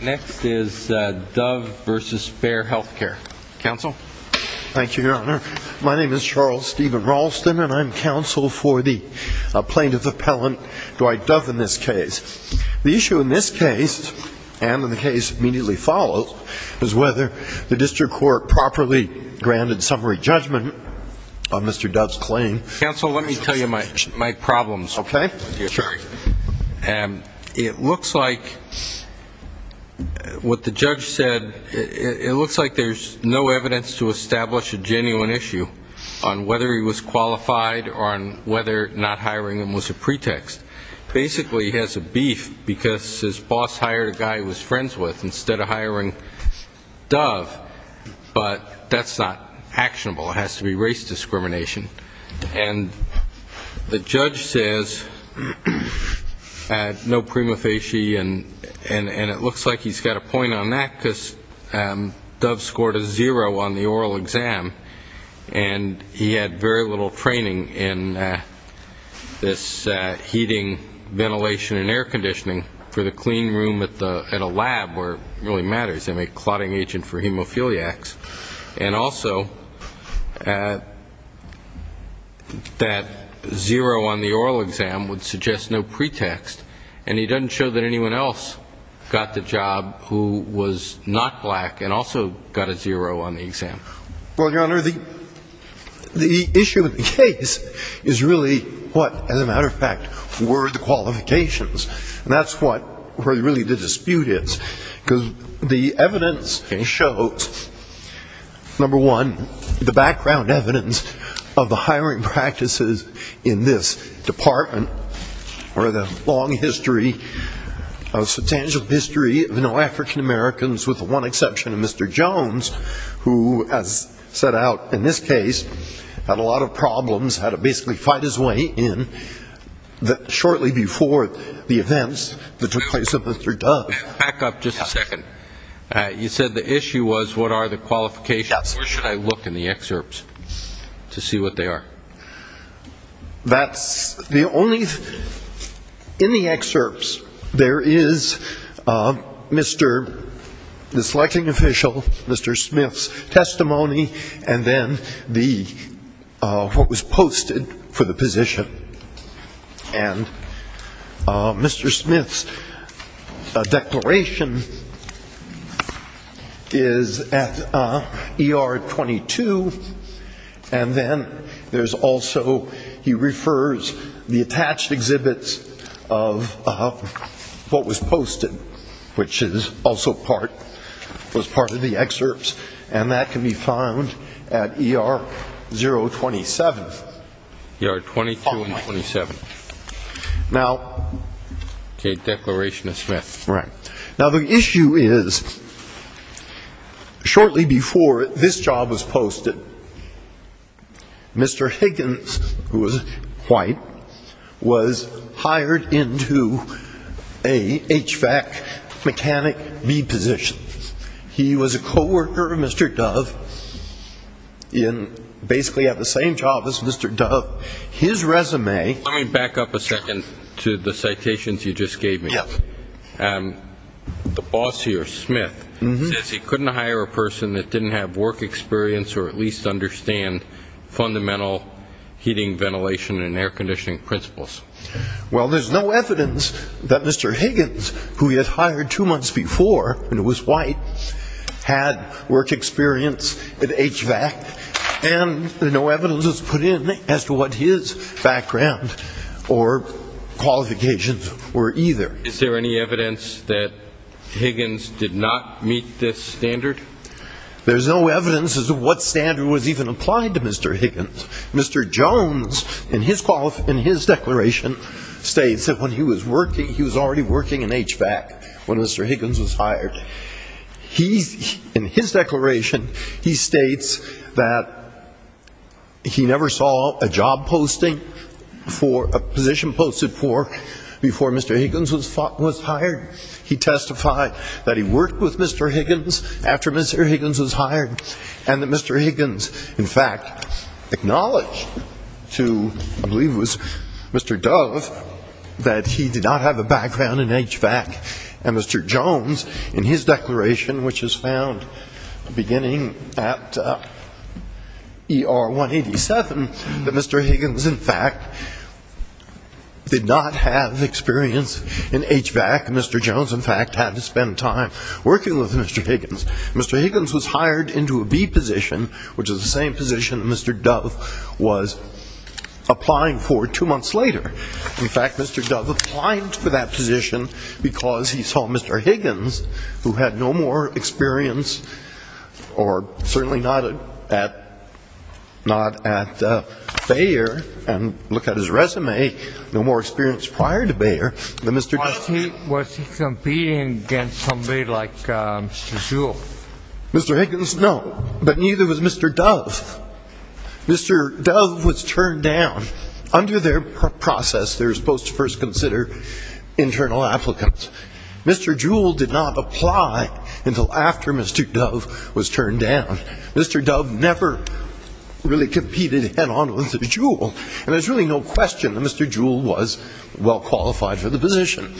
Next is Dove v. Bayer Healthcare. Counsel? Thank you, Your Honor. My name is Charles Stephen Ralston, and I'm counsel for the plaintiff appellant, Dwight Dove, in this case. The issue in this case, and in the case immediately follows, is whether the district court properly granted summary judgment on Mr. Dove's claim. Counsel, let me tell you my problems. Okay. Sure. It looks like what the judge said, it looks like there's no evidence to establish a genuine issue on whether he was qualified or on whether not hiring him was a pretext. Basically, he has a beef because his boss hired a guy he was friends with instead of hiring Dove, but that's not actionable. It has to be race discrimination. And the judge says no prima facie, and it looks like he's got a point on that because Dove scored a zero on the oral exam, and he had very little training in this heating, ventilation, and air conditioning for the clean room at a lab where it really matters. They make a clotting suggest no pretext, and he doesn't show that anyone else got the job who was not black and also got a zero on the exam. Well, Your Honor, the issue in the case is really what, as a matter of fact, were the qualifications. And that's what really the dispute is. Because the evidence shows, number one, the background evidence of the hiring practices in this department or the long history, substantial history of African-Americans with the one exception of Mr. Jones, who, as set out in this case, had a lot of problems, had to basically fight his way in shortly before the events that took place with Mr. Dove. Back up just a second. You said the issue was what are the qualifications? Where should I look in the excerpts to see what they are? That's the only, in the excerpts, there is Mr., the selecting official, Mr. Smith's testimony, and then the, what was posted for the position. And Mr. Smith's declaration is at ER 22, and then there's also, he refers the attached exhibits of what was posted, which is also part, was part of the excerpts. And that can be found at ER 027. ER 22 and 27. Now. Okay. Declaration of Smith. Now, the issue is, shortly before this job was posted, Mr. Higgins, who was white, was hired into a HVAC mechanic B position. He was a co-worker of Mr. Dove in, basically at the same job as Mr. Dove. His resume. Let me back up a second to the citations you just gave me. Yes. The boss here, Smith, says he couldn't hire a person that didn't have work experience or at least understand fundamental heating, ventilation, and air conditioning principles. Well, there's no evidence that Mr. Higgins, who he had hired two months before, and was or qualifications were either. Is there any evidence that Higgins did not meet this standard? There's no evidence as to what standard was even applied to Mr. Higgins. Mr. Jones, in his declaration, states that when he was working, he was already working in HVAC when Mr. Higgins was hired. He's, in his declaration, he states that he never saw a job posting for, a position posted for, before Mr. Higgins was hired. He testified that he worked with Mr. Higgins after Mr. Higgins was hired, and that Mr. Higgins, in fact, acknowledged to, I believe it was Mr. Dove, that he did not have a background in HVAC. And Mr. Jones, in his declaration, which is found beginning at ER 187, that Mr. Higgins, in fact, did not have experience in HVAC. Mr. Jones, in fact, had to spend time working with Mr. Higgins. Mr. Higgins was hired into a B position, which is the same position that Mr. Dove was applying for two months later. In fact, Mr. Dove applied for that position because he saw Mr. Higgins, who had no more experience, or certainly not at, not at Bayer, and look at his resume, no more experience prior to Bayer, than Mr. Dove. Was he, was he competing against somebody like Mr. Jewell? Mr. Higgins, no. But neither was Mr. Dove. Mr. Dove was turned down. Under their process, they're supposed to first consider internal applicants. Mr. Jewell did not apply until after Mr. Dove was turned down. Mr. Dove never really competed head-on with Jewell. And there's really no question that Mr. Jewell was well-qualified for the position.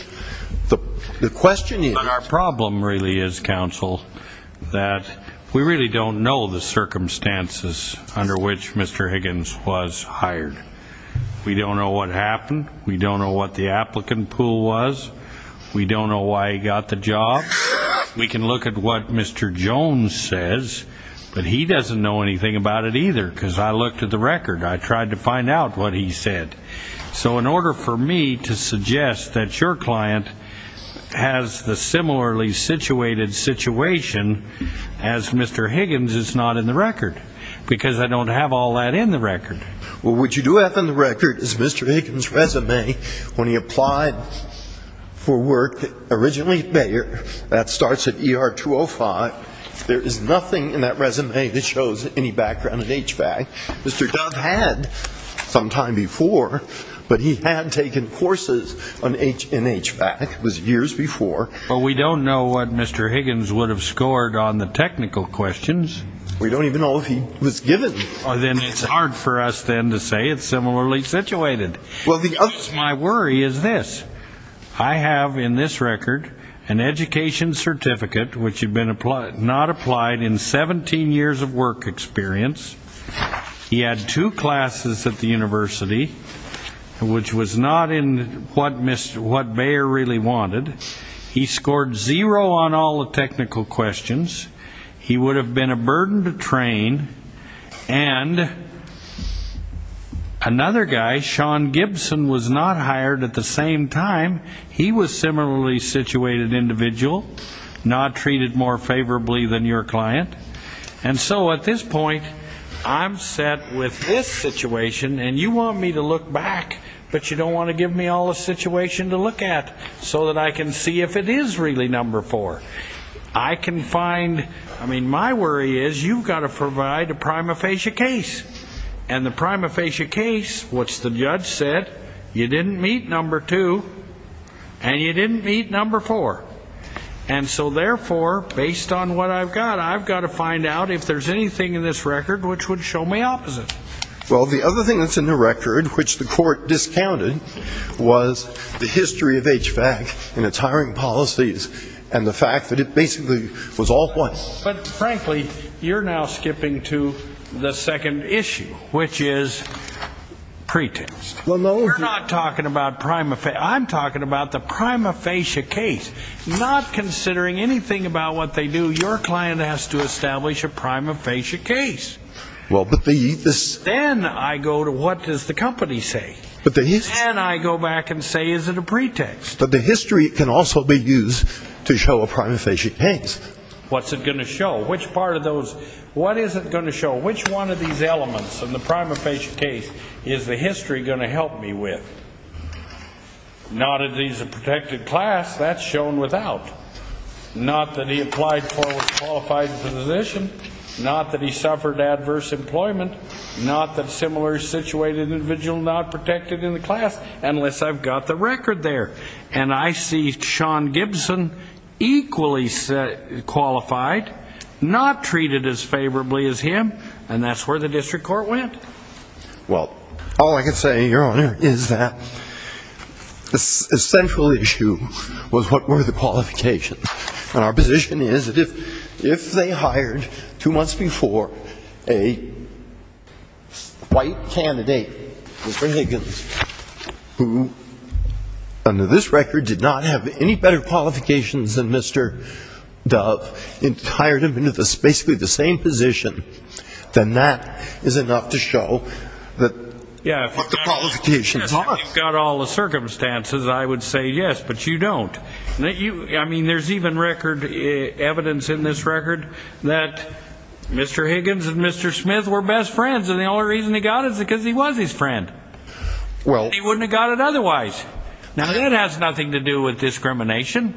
The question is... And our problem really is, counsel, that we really don't know the circumstances under which Mr. Higgins was hired. We don't know what happened. We don't know what the applicant pool was. We don't know why he got the job. We can look at what Mr. Jones says, but he doesn't know anything about it either, because I looked at the record. I tried to find out what he said. So in order for me to suggest that your client has the similarly situated situation as Mr. Higgins, it's not in the record. Because I don't have all that in the record. Well, what you do have in the record is Mr. Higgins' resume when he applied for work originally at Bayer. That starts at ER 205. There is nothing in that resume that shows any background at HVAC. Mr. Dove had some time before, but he had taken courses in HVAC. It was years before. Well, we don't know what Mr. Higgins would have scored on the technical questions. We don't even know if he was given. Well, then it's hard for us then to say it's similarly situated. My worry is this. I have in this record an education certificate which had not applied in 17 years of work experience. He had two classes at the university, which was not in what Bayer really wanted. He scored zero on all the technical questions. He would have been a burden to train. And another guy, Sean Gibson, was not hired at the same time. He was a similarly situated individual, not treated more favorably than your client. And so at this point, I'm set with this situation, and you want me to look back. But you don't want to give me all the situation to look at so that I can see if it is really number four. I can find, I mean, my worry is you've got to provide a prima facie case. And the prima facie case, which the judge said you didn't meet number two and you didn't meet number four. And so therefore, based on what I've got, I've got to find out if there's anything in this record which would show me opposite. Well, the other thing that's in the record which the court discounted was the history of HVAC and its hiring policies, and the fact that it basically was all one. But frankly, you're now skipping to the second issue, which is pretext. You're not talking about prima facie. I'm talking about the prima facie case. Not considering anything about what they do, your client has to establish a prima facie case. Then I go to what does the company say? And I go back and say, is it a pretext? But the history can also be used to show a prima facie case. What's it going to show? Which part of those, what is it going to show? Which one of these elements in the prima facie case is the history going to help me with? Not that he's a protected class, that's shown without. Not that he applied for a qualified position, not that he suffered adverse employment, not that similar situated individual not protected in the class, unless I've got the record there. And I see Sean Gibson equally qualified, not treated as favorably as him, and that's where the district court went. Well, all I can say, your honor, is that the central issue was what were the qualifications. And our position is that if they hired two months before a white candidate, Mr. Higgins, who under this record did not have any better qualifications than Mr. Dove, and hired him in basically the same position, then that is enough to show that the qualifications. You've got all the circumstances, I would say yes, but you don't. I mean, there's even record evidence in this record that Mr. Higgins and Mr. Smith were best friends, and the only reason he got it is because he was his friend. He wouldn't have got it otherwise. Now that has nothing to do with discrimination.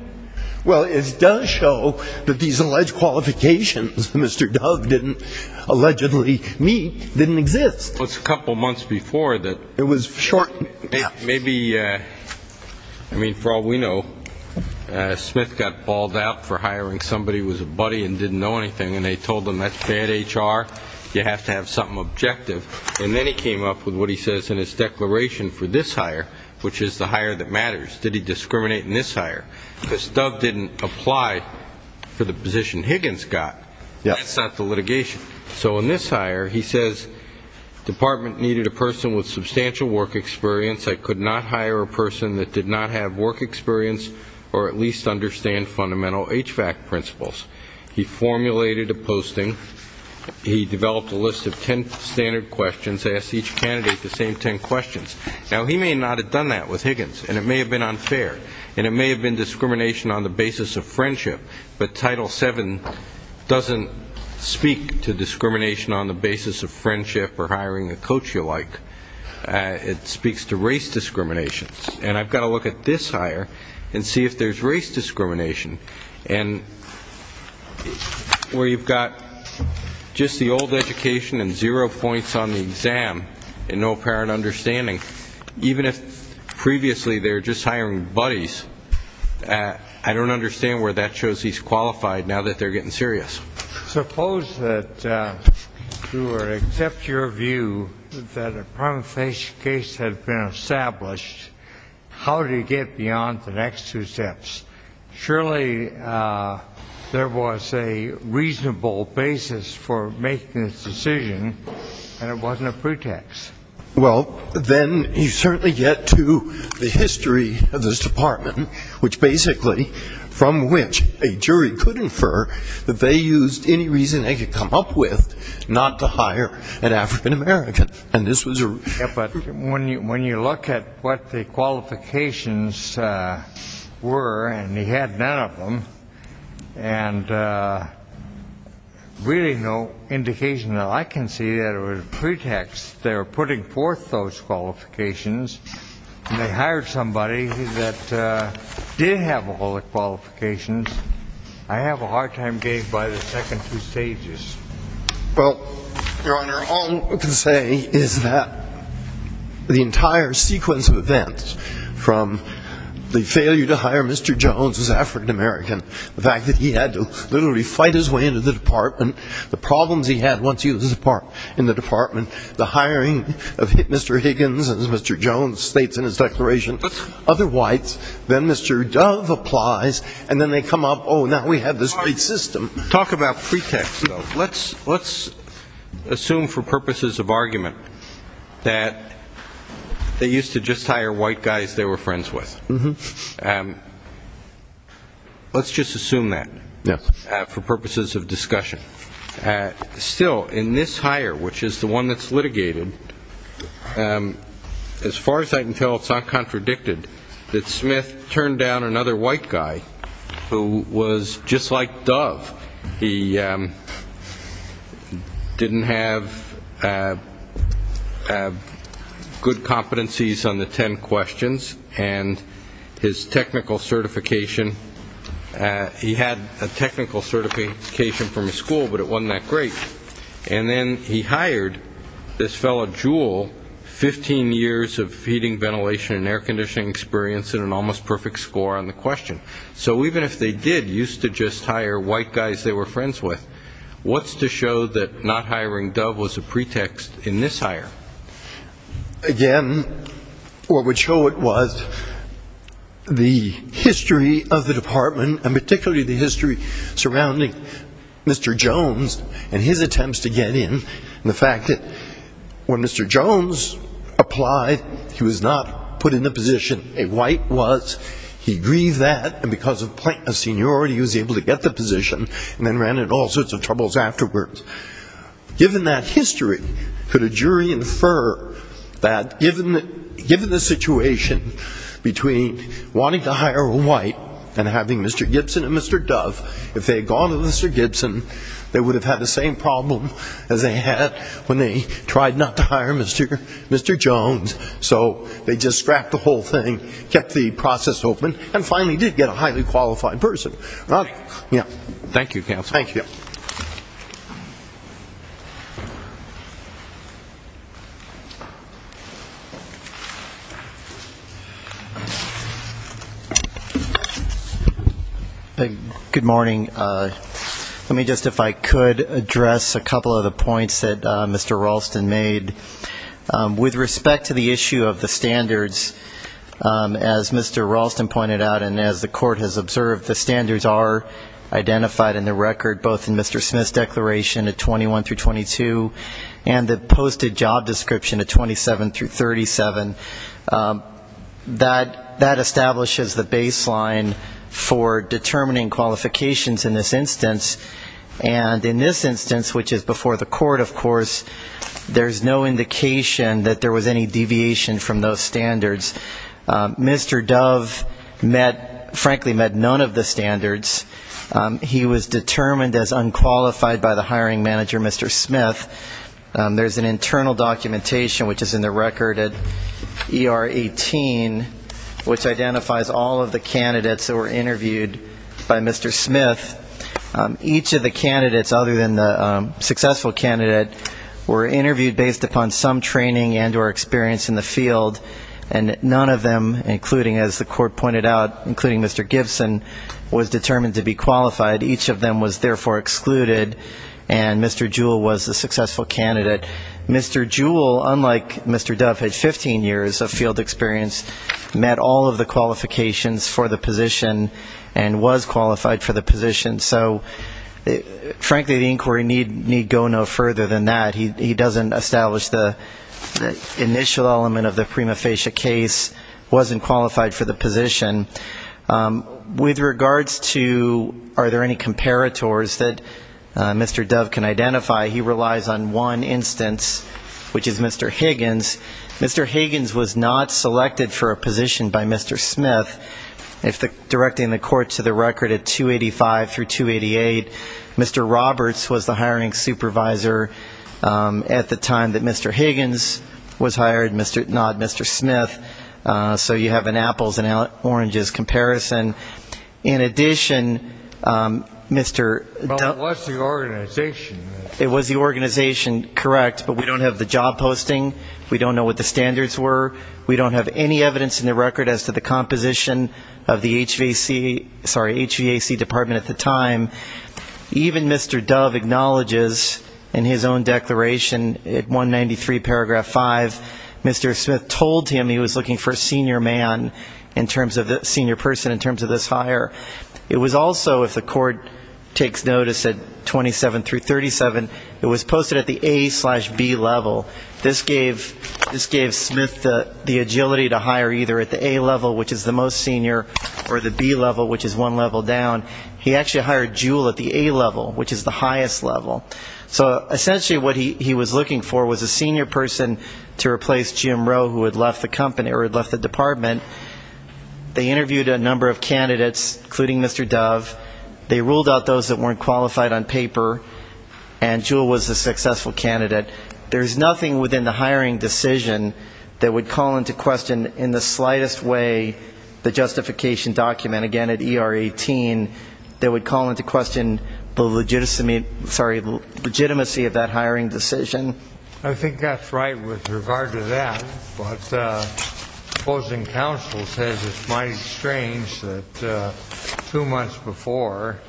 Well, it does show that these alleged qualifications Mr. Dove didn't allegedly meet didn't exist. Well, it's a couple months before that. Maybe, I mean, for all we know, Smith got balled out for hiring somebody who was a buddy and didn't know anything, and they told him that's bad HR, you have to have something objective. And then he came up with what he says in his declaration for this hire, which is the hire that matters. Did he discriminate in this hire? Because Dove didn't apply for the position Higgins got. That's not the litigation. So in this hire, he says department needed a person with substantial work experience, I could not hire a person that did not have work experience, or at least understand fundamental HVAC principles. He formulated a posting, he developed a list of ten standard questions, asked each candidate the same ten questions. Now, he may not have done that with Higgins, and it may have been unfair, and it may have been discrimination on the basis of friendship, but Title VII doesn't speak to discrimination on the basis of friendship or hiring a coach you like. It speaks to race discrimination, and I've got to look at this hire and see if there's race discrimination. And where you've got just the old education and zero points on the exam and no apparent understanding, even if previously they were just hiring buddies, I don't understand where that shows he's qualified now that they're getting serious. Suppose that, to accept your view that a primary case had been established, how do you get beyond the next two steps? Surely there was a reasonable basis for making this decision, and it wasn't a pretext. Well, then you certainly get to the history of this department, which basically, from which a jury could infer that they used any reason they could come up with not to hire an African American. But when you look at what the qualifications were, and he had none of them, and really no indication that I can see that it was a pretext. They were putting forth those qualifications, and they hired somebody that did have all the qualifications. I have a hard time getting by the second two stages. Well, Your Honor, all I can say is that the entire sequence of events, from the failure to hire Mr. Jones as African American, the fact that he had to literally fight his way into the department, the problems he had once he was in the department, the hiring of Mr. Higgins as Mr. Jones states in his declaration, other whites. Then Mr. Dove applies, and then they come up, oh, now we have this great system. Talk about pretext, though. Let's assume for purposes of argument that they used to just hire white guys they were friends with. Let's just assume that for purposes of discussion. Still, in this hire, which is the one that's litigated, as far as I can tell, it's not contradicted that Smith turned down another white guy who was just like Dove. He didn't have good competencies on the ten questions, and his technical certification, he had a technical certification from his school, but it wasn't that great, and then he hired this fellow Jewell, 15 years of heating, ventilation and air conditioning experience and an almost perfect score on the question. So even if they did used to just hire white guys they were friends with, what's to show that not hiring Dove was a pretext in this hire? Again, what would show it was the history of the department, and particularly the history surrounding Mr. Jones. And his attempts to get in, and the fact that when Mr. Jones applied he was not put in the position a white was, he grieved that, and because of seniority he was able to get the position, and then ran into all sorts of troubles afterwards. Given that history, could a jury infer that given the situation between wanting to hire a white and having Mr. Gibson and Mr. Dove, if they had gone to Mr. Gibson, they would have been able to get the position. They would have had the same problem as they had when they tried not to hire Mr. Jones, so they just scrapped the whole thing, kept the process open, and finally did get a highly qualified person. Thank you. Thank you, counsel. Good morning. Let me just, if I could, address a couple of the points that Mr. Ralston made. With respect to the issue of the standards, as Mr. Ralston pointed out, and as the court has observed, the standards are identified in the record, both in Mr. Smith's declaration at 21 through 22, and the posted job description at 27 through 37. That establishes the baseline for determining qualifications in this instance, and in this instance, which is before the court, of course, there's no indication that Mr. Smith is qualified for the job description. There's no indication that there was any deviation from those standards. Mr. Dove met, frankly, met none of the standards. He was determined as unqualified by the hiring manager, Mr. Smith. There's an internal documentation, which is in the record at ER 18, which identifies all of the candidates that were interviewed by Mr. Smith. Each of the candidates, other than the successful candidate, were interviewed based upon some training and or experience in the field, and none of them, including, as the court pointed out, including Mr. Gibson, was determined to be qualified. Each of them was therefore excluded, and Mr. Jewell was the successful candidate. Mr. Jewell, unlike Mr. Dove, had 15 years of field experience, met all of the qualifications for the position, and was qualified for the position. So, frankly, the inquiry need go no further than that. He doesn't establish the initial element of the prima facie case, wasn't qualified for the position. With regards to are there any comparators that Mr. Dove can identify, he relies on one instance, which is Mr. Higgins. Mr. Higgins was not selected for a position by Mr. Smith. Directing the court to the record at 285 through 288, Mr. Roberts was the hiring supervisor at the time that Mr. Higgins was hired, not Mr. Smith. So you have an apples and oranges comparison. In addition, Mr. Dove was the organization. It was the organization, correct, but we don't have the job posting, we don't know what the standards were, we don't have any evidence in the record as to the composition of the position. Of the HVAC, sorry, HVAC department at the time. Even Mr. Dove acknowledges in his own declaration at 193 paragraph 5, Mr. Smith told him he was looking for a senior man in terms of the senior person in terms of this hire. It was also, if the court takes notice at 27 through 37, it was posted at the A slash B level. This gave Smith the agility to hire either at the A level, which is the most senior, or the B level, which is one level down. He actually hired Jewell at the A level, which is the highest level. So essentially what he was looking for was a senior person to replace Jim Rowe, who had left the department. They interviewed a number of candidates, including Mr. Dove. They ruled out those that weren't qualified on paper, and Jewell was a successful candidate. There's nothing within the hiring decision that would call into question in the slightest way the justification document, again at ER 18, that would call into question the legitimacy of that hiring decision. I think that's right with regard to that. But opposing counsel says it's mighty strange that two months before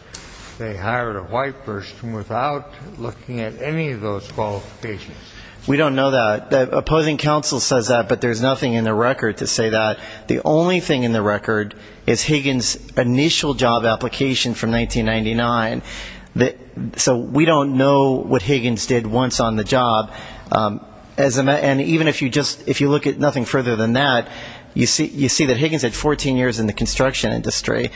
they hired a white person without looking at any of those qualifications. We don't know that. Opposing counsel says that, but there's nothing in the record to say that. The only thing in the record is Higgins' initial job application from 1999. So we don't know what Higgins did once on the job. And even if you look at nothing further than that, you see that Higgins had 14 years in the construction industry.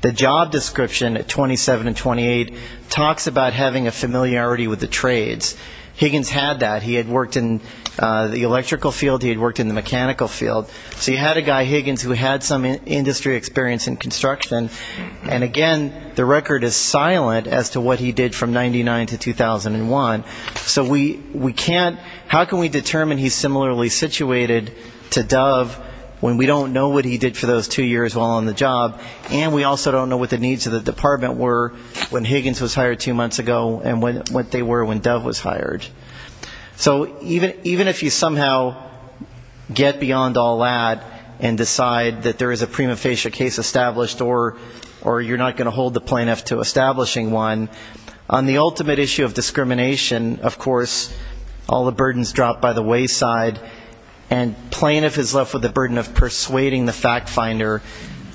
The job description at 27 and 28 talks about having a familiarity with the trades. Higgins had that. He had worked in the electrical field, he had worked in the mechanical field. So you had a guy, Higgins, who had some industry experience in construction. And again, the record is silent as to what he did from 99 to 2001. So we can't, how can we determine he's similarly situated to Dove when we don't know what he did for those two years while on the job, and we also don't know what the needs of the department were when Higgins was hired two months ago and what they were when Dove was hired. So even if you somehow get beyond all that and decide that there is a prima facie case established or you're not going to hold the plaintiff to establishing one, on the ultimate issue of discrimination, of course, all the burdens drop by the wayside, and plaintiff is left with the burden of persuading the fact finder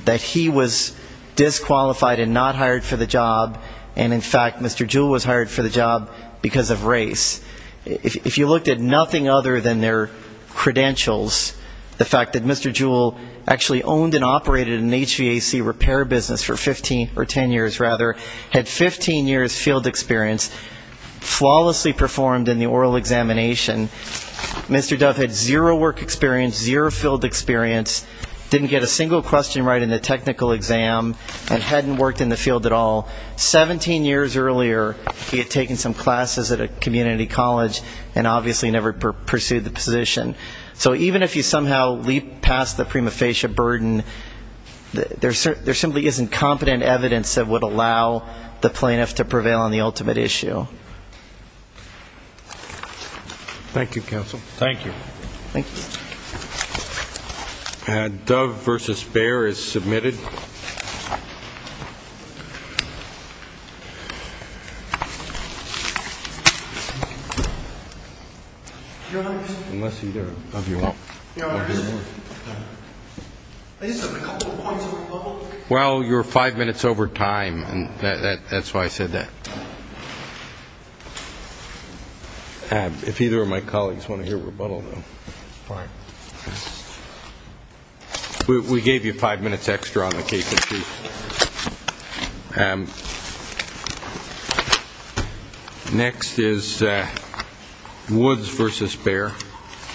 that he was disqualified and not hired for the job, and, in fact, Mr. Jewell was hired for the job because of race. If you looked at nothing other than their credentials, the fact that Mr. Jewell actually owned and operated an HVAC repair business for 15 or 10 years, rather, had 15 years field experience, flawlessly performed in the oral examination, Mr. Dove had zero work experience, zero field experience, didn't get a single question right in the technical exam, and hadn't worked in the field at all. 17 years earlier, he had taken some classes at a community college and obviously never pursued the position. So even if you somehow leap past the prima facie burden, there simply isn't competent evidence that would allow you to pursue the position. It's up to the plaintiff to prevail on the ultimate issue. Thank you, counsel. Thank you. Dove v. Behr is submitted. Unless either of you want to hear more. Well, you're five minutes over time, and that's why I said that. If either of my colleagues want to hear a rebuttal, though. We gave you five minutes extra on the case. Next is Woods v. Behr.